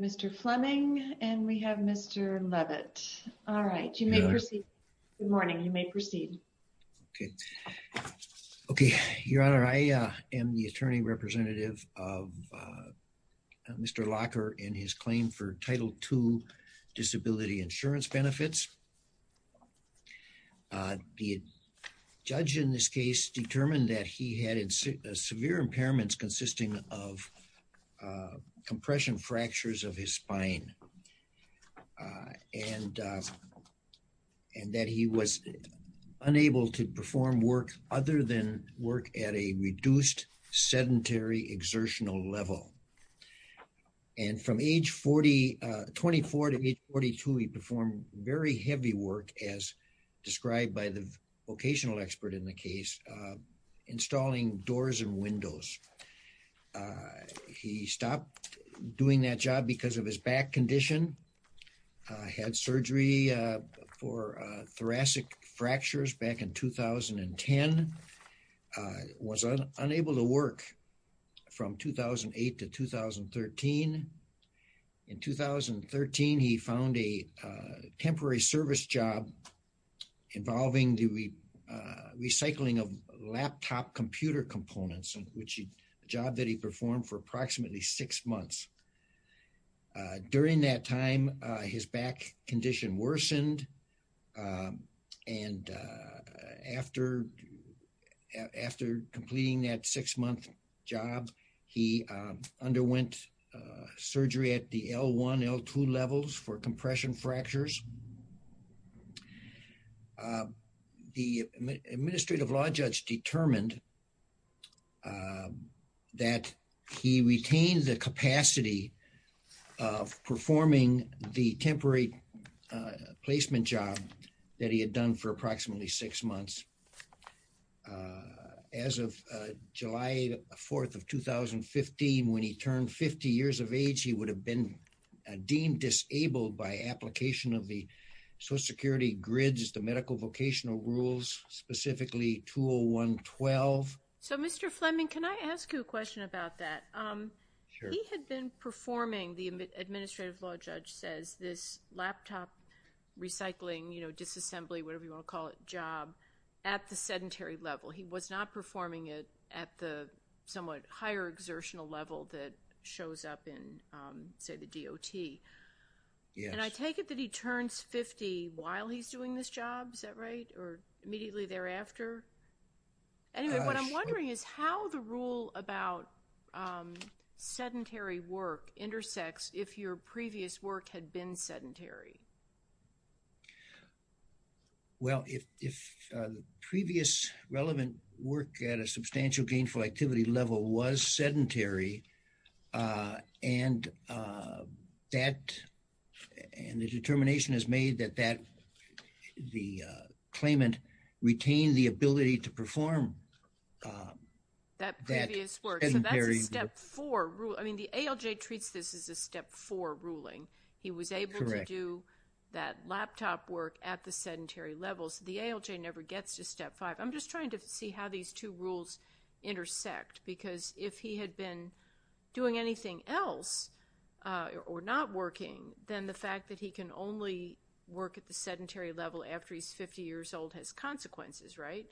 Mr. Fleming and Mr. Leavitt Good morning. You may proceed. Okay. Okay, your honor I am the attorney representative of Mr locker in his claim for title to disability insurance benefits. The judge in this case determined that he had severe impairments consisting of compression fractures of his spine. And, and that he was unable to perform work, other than work at a reduced sedentary exertional level. And from age 4024 to age 42 he performed very heavy work as described by the vocational expert in the case, installing doors and windows. He stopped doing that job because of his back condition had surgery for thoracic fractures back in 2010 was unable to work from 2008 to 2013. In 2013 he found a temporary service job, involving the recycling of laptop computer components and which job that he performed for approximately six months. During that time, his back condition worsened. And after, after completing that six month job. He underwent surgery at the L1 L2 levels for compression fractures. The administrative law judge determined that he retained the capacity of performing the temporary placement job that he had done for approximately six months. As of July, 4th of 2015 when he turned 50 years of age he would have been deemed disabled by application of the social security grids the medical vocational rules, specifically tool 112. So Mr. Fleming, can I ask you a question about that? He had been performing the administrative law judge says this laptop recycling, you know, disassembly, whatever you want to call it, job at the sedentary level. He was not performing it at the somewhat higher exertional level that shows up in, say, the DOT. And I take it that he turns 50 while he's doing this job. Is that right? Or immediately thereafter? Anyway, what I'm wondering is how the rule about sedentary work intersects. If your previous work had been sedentary. Well, if if the previous relevant work at a substantial gainful activity level was sedentary and that and the determination is made that that the claimant retain the ability to perform. That previous work. So that's a step four rule. I mean, the ALJ treats this as a step four ruling. He was able to do that laptop work at the sedentary levels. The ALJ never gets to step five. I'm just trying to see how these two rules intersect, because if he had been doing anything else or not working, then the fact that he can only work at the sedentary level after he's 50 years old has consequences. Right?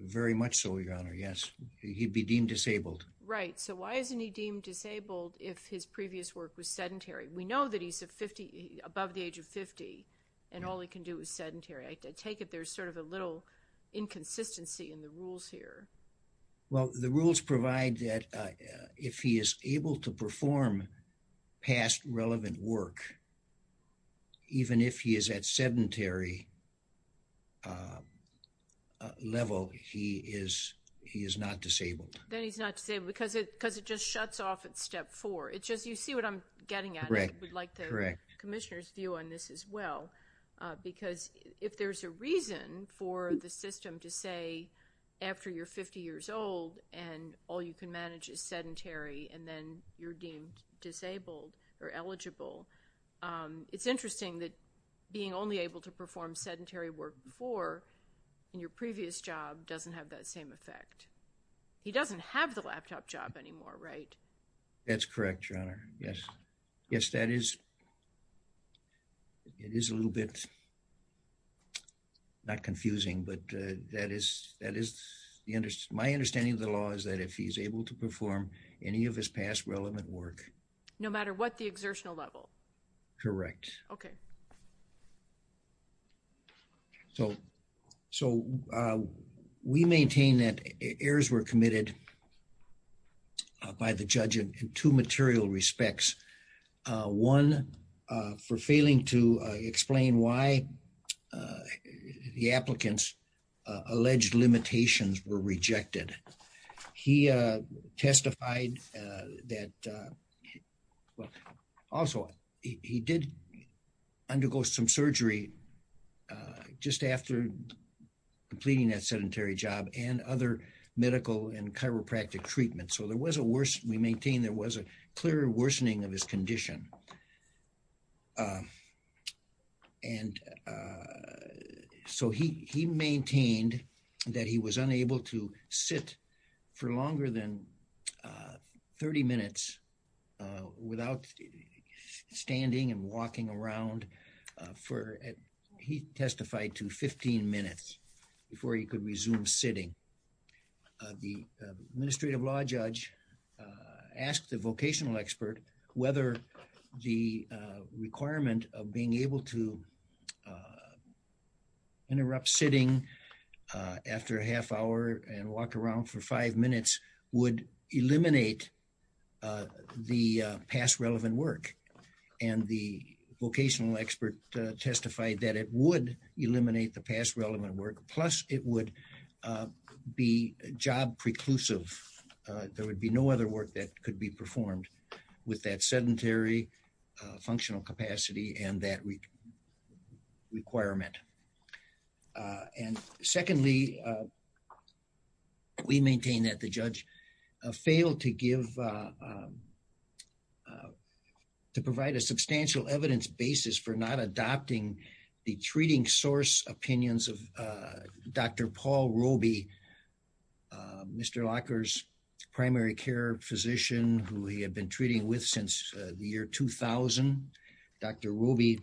Very much so, Your Honor. Yes. He'd be deemed disabled. Right. So why isn't he deemed disabled if his previous work was sedentary? We know that he's above the age of 50 and all he can do is sedentary. I take it there's sort of a little inconsistency in the rules here. Well, the rules provide that if he is able to perform past relevant work, even if he is at sedentary level, he is he is not disabled. Then he's not disabled because it just shuts off at step four. You see what I'm getting at. I would like the Commissioner's view on this as well. Because if there's a reason for the system to say after you're 50 years old and all you can manage is sedentary and then you're deemed disabled or eligible, it's interesting that being only able to perform sedentary work before in your previous job doesn't have that same effect. He doesn't have the laptop job anymore. Right? That's correct, Your Honor. Yes. Yes, that is. It is a little bit. Not confusing, but that is that is my understanding of the law is that if he's able to perform any of his past relevant work. No matter what the exertional level. Correct. Okay. So, so we maintain that errors were committed. By the judge in 2 material respects. 1 for failing to explain why the applicants. Alleged limitations were rejected. He testified that. Also, he did undergo some surgery just after completing that sedentary job and other medical and chiropractic treatment. So there was a worse. We maintain there was a clear worsening of his condition. And so he, he maintained that he was unable to sit for longer than 30 minutes. Without standing and walking around for he testified to 15 minutes before he could resume sitting. The administrative law judge asked the vocational expert, whether the requirement of being able to. Interrupt sitting after a half hour and walk around for 5 minutes would eliminate the past relevant work. And the vocational expert testified that it would eliminate the past relevant work. Plus, it would be job preclusive. There would be no other work that could be performed with that sedentary functional capacity and that requirement. And secondly. We maintain that the judge failed to give. To provide a substantial evidence basis for not adopting the treating source opinions of Dr. Paul Ruby. Mr. Locker's primary care physician who he had been treating with since the year 2000. Dr. Ruby.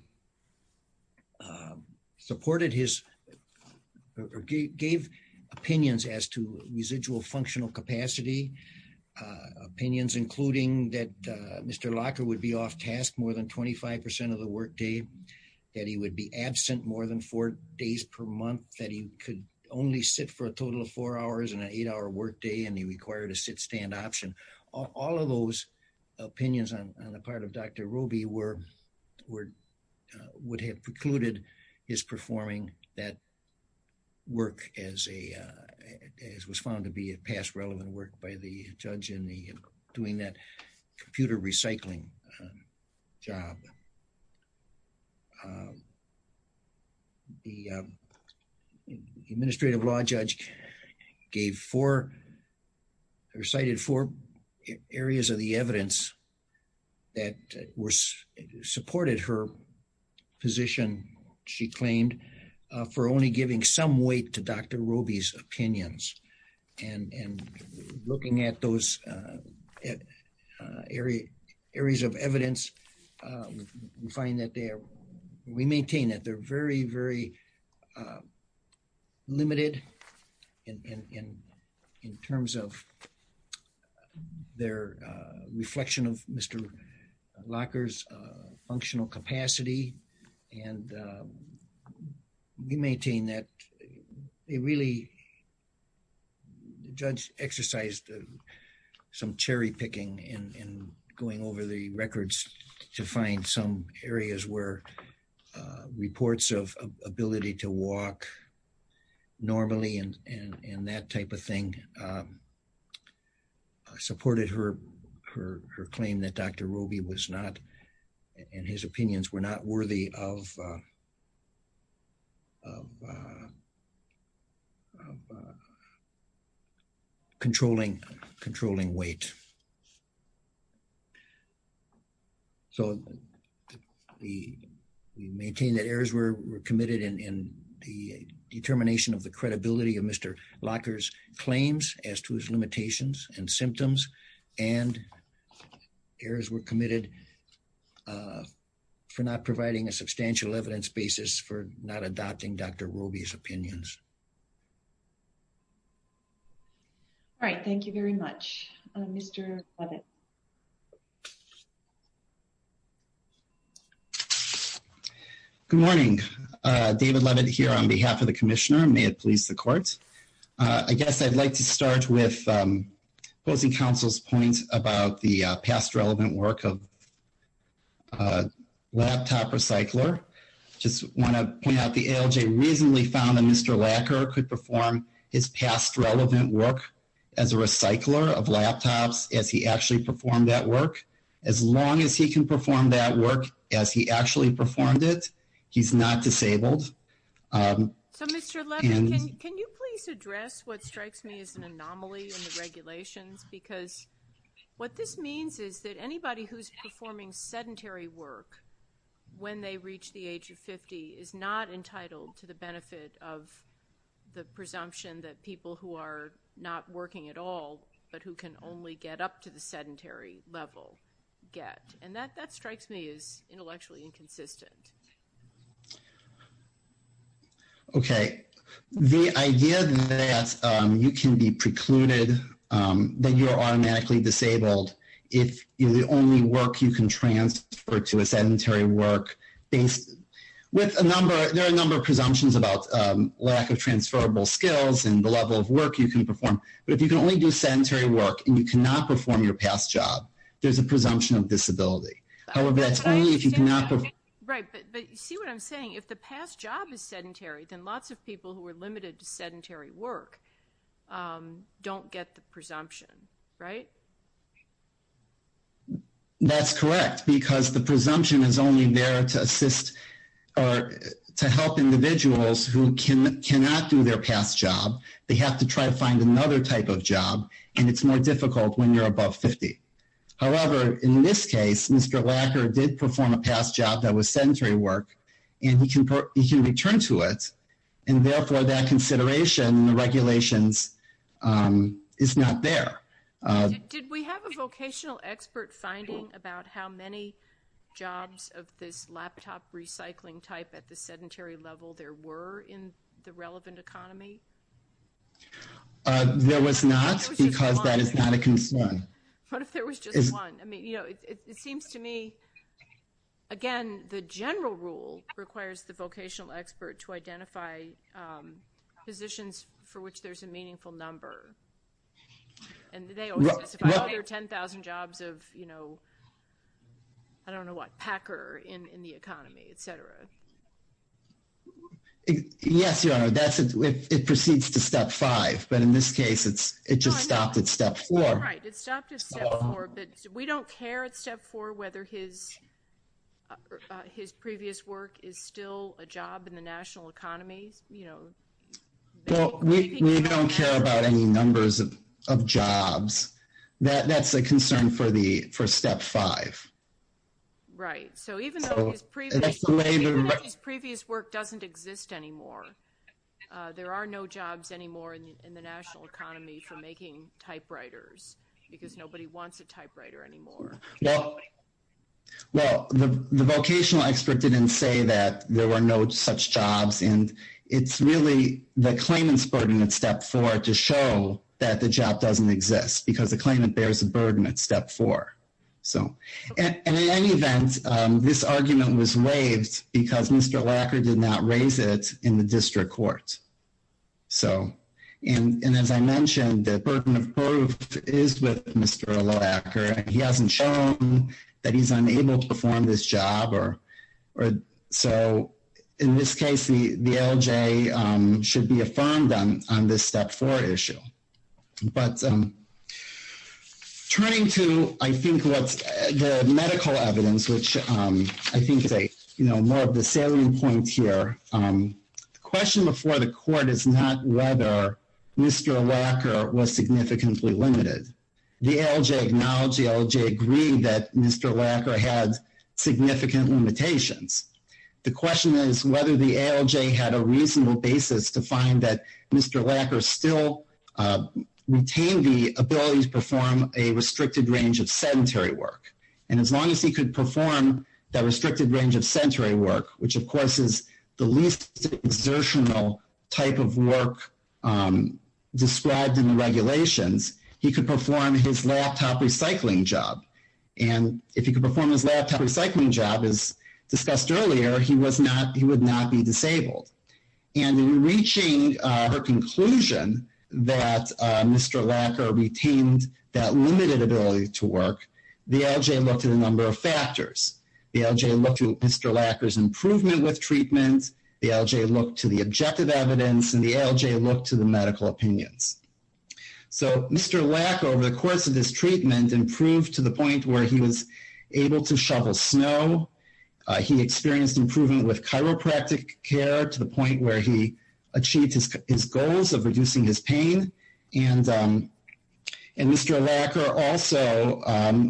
Supported his gave opinions as to residual functional capacity. Opinions, including that Mr. Locker would be off task more than 25% of the workday that he would be absent more than 4 days per month that he could only sit for a total of 4 hours and an 8 hour workday. And he required a sit stand option. All of those opinions on the part of Dr. Ruby were. Would have precluded his performing that. Work as a as was found to be a past relevant work by the judge in the doing that computer recycling. Job. The administrative law judge gave 4. Recited 4 areas of the evidence. That was supported her position. She claimed for only giving some weight to Dr. Ruby's opinions. And looking at those. Area areas of evidence. We find that there we maintain that they're very, very. Limited in terms of. Their reflection of Mr. Locker's functional capacity. And we maintain that they really. Judge exercised some cherry picking in going over the records to find some areas where reports of ability to walk. Normally, and that type of thing. Supported her, her, her claim that Dr. Ruby was not. And his opinions were not worthy of. Of. Controlling controlling weight. So, the. We maintain that errors were committed in the determination of the credibility of Mr. Locker's claims as to his limitations and symptoms. And errors were committed. For not providing a substantial evidence basis for not adopting Dr. Ruby's opinions. Thank you very much. All right. Thank you very much. Mr. Good morning. David, let it here on behalf of the commissioner. May it please the courts. I guess I'd like to start with. I'd like to start with. Posing counsel's points about the past relevant work of. Laptop recycler. Just want to point out the LJ reasonably found that Mr. Lacquer could perform his past relevant work. As a recycler of laptops, as he actually performed that work. As long as he can perform that work as he actually performed it. He's not disabled. So, Mr. Can you please address what strikes me as an anomaly in the regulations? Because. What this means is that anybody who's performing sedentary work. When they reach the age of 50 is not entitled to the benefit of. The presumption that people who are not working at all, but who can only get up to the sedentary level. And that, that strikes me as intellectually inconsistent. Okay. The idea that you can be precluded. Then you're automatically disabled. If the only work you can transfer to a sedentary work. With a number, there are a number of presumptions about lack of transferable skills and the level of work you can perform. But if you can only do sedentary work, and you cannot perform your past job, there's a presumption of disability. However, that's only if you cannot. Right. But see what I'm saying. If the past job is sedentary, then lots of people who are limited to sedentary work. Don't get the presumption. Right. That's correct. Because the presumption is only there to assist. Or to help individuals who can cannot do their past job. They have to try to find another type of job. And it's more difficult when you're above 50. However, in this case, Mr. Lacker did perform a past job that was sedentary work. And he can return to it. And therefore, that consideration in the regulations is not there. Did we have a vocational expert finding about how many jobs of this laptop recycling type at the sedentary level there were in the relevant economy? There was not. Because that is not a concern. What if there was just one? It seems to me, again, the general rule requires the vocational expert to identify positions for which there's a meaningful number. And they all specify other 10,000 jobs of, you know, I don't know what, Packer in the economy, et cetera. Yes, Your Honor. It proceeds to step five. But in this case, it just stopped at step four. Right. It stopped at step four. But we don't care at step four whether his previous work is still a job in the national economy. Well, we don't care about any numbers of jobs. That's a concern for step five. Right. So even though his previous work doesn't exist anymore, there are no jobs anymore in the national economy for making typewriters because nobody wants a typewriter anymore. Well, the vocational expert didn't say that there were no such jobs. And it's really the claimant's burden at step four to show that the job doesn't exist because the claimant bears a burden at step four. And in any event, this argument was waived because Mr. Lacker did not raise it in the district court. So and as I mentioned, the burden of proof is with Mr. Lacker. He hasn't shown that he's unable to perform this job. So in this case, the LJ should be affirmed on this step four issue. But turning to, I think, the medical evidence, which I think is more of the salient point here. The question before the court is not whether Mr. Lacker was significantly limited. The LJ acknowledged, the LJ agreed that Mr. Lacker had significant limitations. The question is whether the LJ had a reasonable basis to find that Mr. Lacker still retained the ability to perform a restricted range of sedentary work. And as long as he could perform that restricted range of sedentary work, which of course is the least exertional type of work described in the regulations, he could perform his laptop recycling job. And if he could perform his laptop recycling job, as discussed earlier, he would not be disabled. And in reaching her conclusion that Mr. Lacker retained that limited ability to work, the LJ looked at a number of factors. The LJ looked to Mr. Lacker's improvement with treatment. The LJ looked to the objective evidence. And the LJ looked to the medical opinions. So Mr. Lacker, over the course of his treatment, improved to the point where he was able to shovel snow. He experienced improvement with chiropractic care to the point where he achieved his goals of reducing his pain. And Mr. Lacker also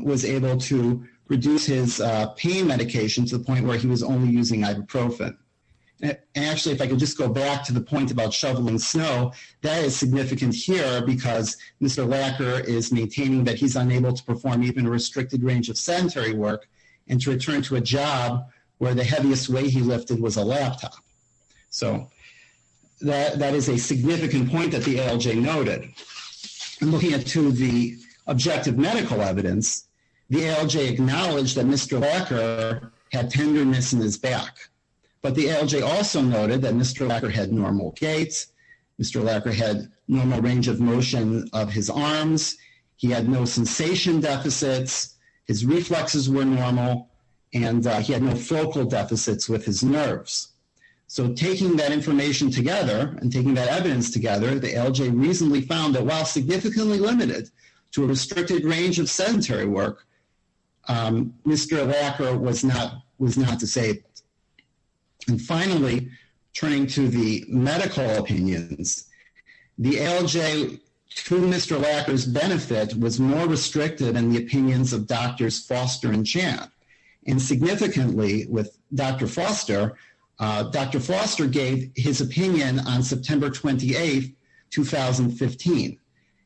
was able to reduce his pain medication to the point where he was only using ibuprofen. Actually, if I could just go back to the point about shoveling snow, that is significant here because Mr. Lacker is maintaining that he's unable to perform even a restricted range of sedentary work and to return to a job where the heaviest weight he lifted was a laptop. So that is a significant point that the LJ noted. And looking at two of the objective medical evidence, the LJ acknowledged that Mr. Lacker had tenderness in his back. But the LJ also noted that Mr. Lacker had normal gaits. Mr. Lacker had normal range of motion of his arms. He had no sensation deficits. His reflexes were normal. And he had no focal deficits with his nerves. So taking that information together and taking that evidence together, the LJ reasonably found that while significantly limited to a restricted range of sedentary work, Mr. Lacker was not disabled. And finally, turning to the medical opinions, the LJ, to Mr. Lacker's benefit, was more restricted in the opinions of Doctors Foster and Champ. And significantly with Dr. Foster, Dr. Foster gave his opinion on September 28, 2015.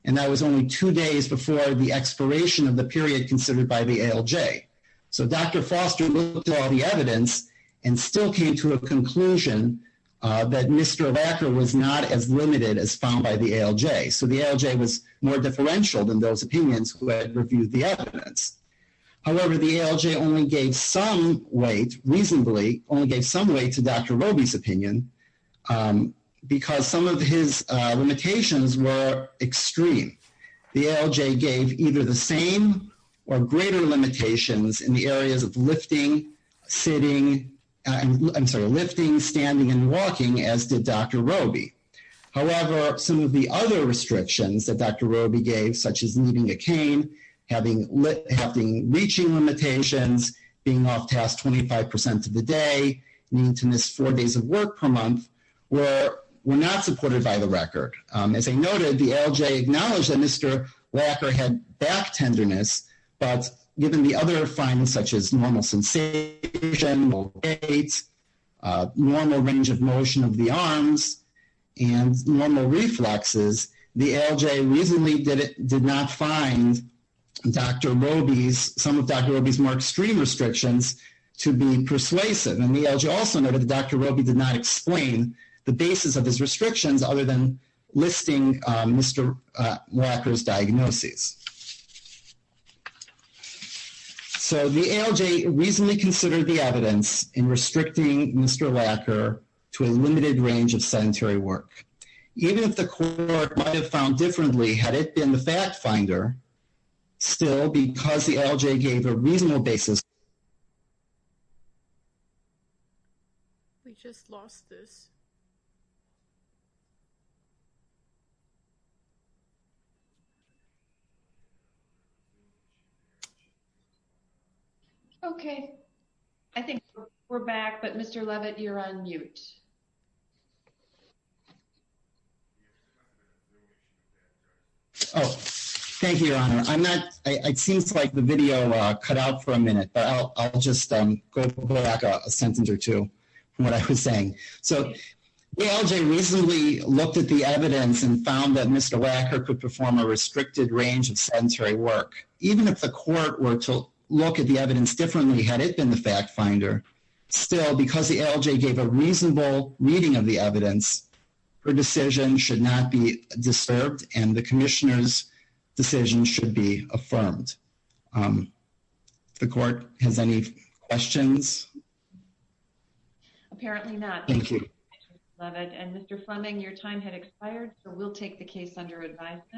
And that was only two days before the expiration of the period considered by the ALJ. So Dr. Foster looked at all the evidence and still came to a conclusion that Mr. Lacker was not as limited as found by the ALJ. So the ALJ was more differential than those opinions who had reviewed the evidence. However, the ALJ only gave some weight, reasonably, only gave some weight to Dr. Roby's opinion because some of his limitations were extreme. The ALJ gave either the same or greater limitations in the areas of lifting, sitting, I'm sorry, lifting, standing, and walking as did Dr. Roby. However, some of the other restrictions that Dr. Roby gave, such as needing a cane, having reaching limitations, being off task 25% of the day, needing to miss four days of work per month, were not supported by the record. As I noted, the ALJ acknowledged that Mr. Lacker had back tenderness, but given the other findings such as normal sensation, normal weight, normal range of motion of the arms, and normal reflexes, the ALJ reasonably did not find Dr. Roby's, some of Dr. Roby's more extreme restrictions to be persuasive. And the ALJ also noted that Dr. Roby did not explain the basis of his restrictions other than listing Mr. Lacker's diagnoses. So the ALJ reasonably considered the evidence in restricting Mr. Lacker to a limited range of sedentary work. Even if the court might have found differently, had it been the fat finder, still, because the ALJ gave a reasonable basis. We just lost this. Okay, I think we're back, but Mr. Levitt, you're on mute. Oh, thank you, Your Honor. I'm not, it seems like the video cut out for a minute, but I'll just go back a sentence or two from what I was saying. So the ALJ reasonably looked at the evidence and found that Mr. Lacker could perform a restricted range of sedentary work. Even if the court were to look at the evidence differently, had it been the fact finder, still, because the ALJ gave a reasonable reading of the evidence, her decision should not be disturbed and the commissioner's decision should be affirmed. The court has any questions? Apparently not. Thank you. Mr. Levitt and Mr. Fleming, your time has expired, so we'll take the case under advisement.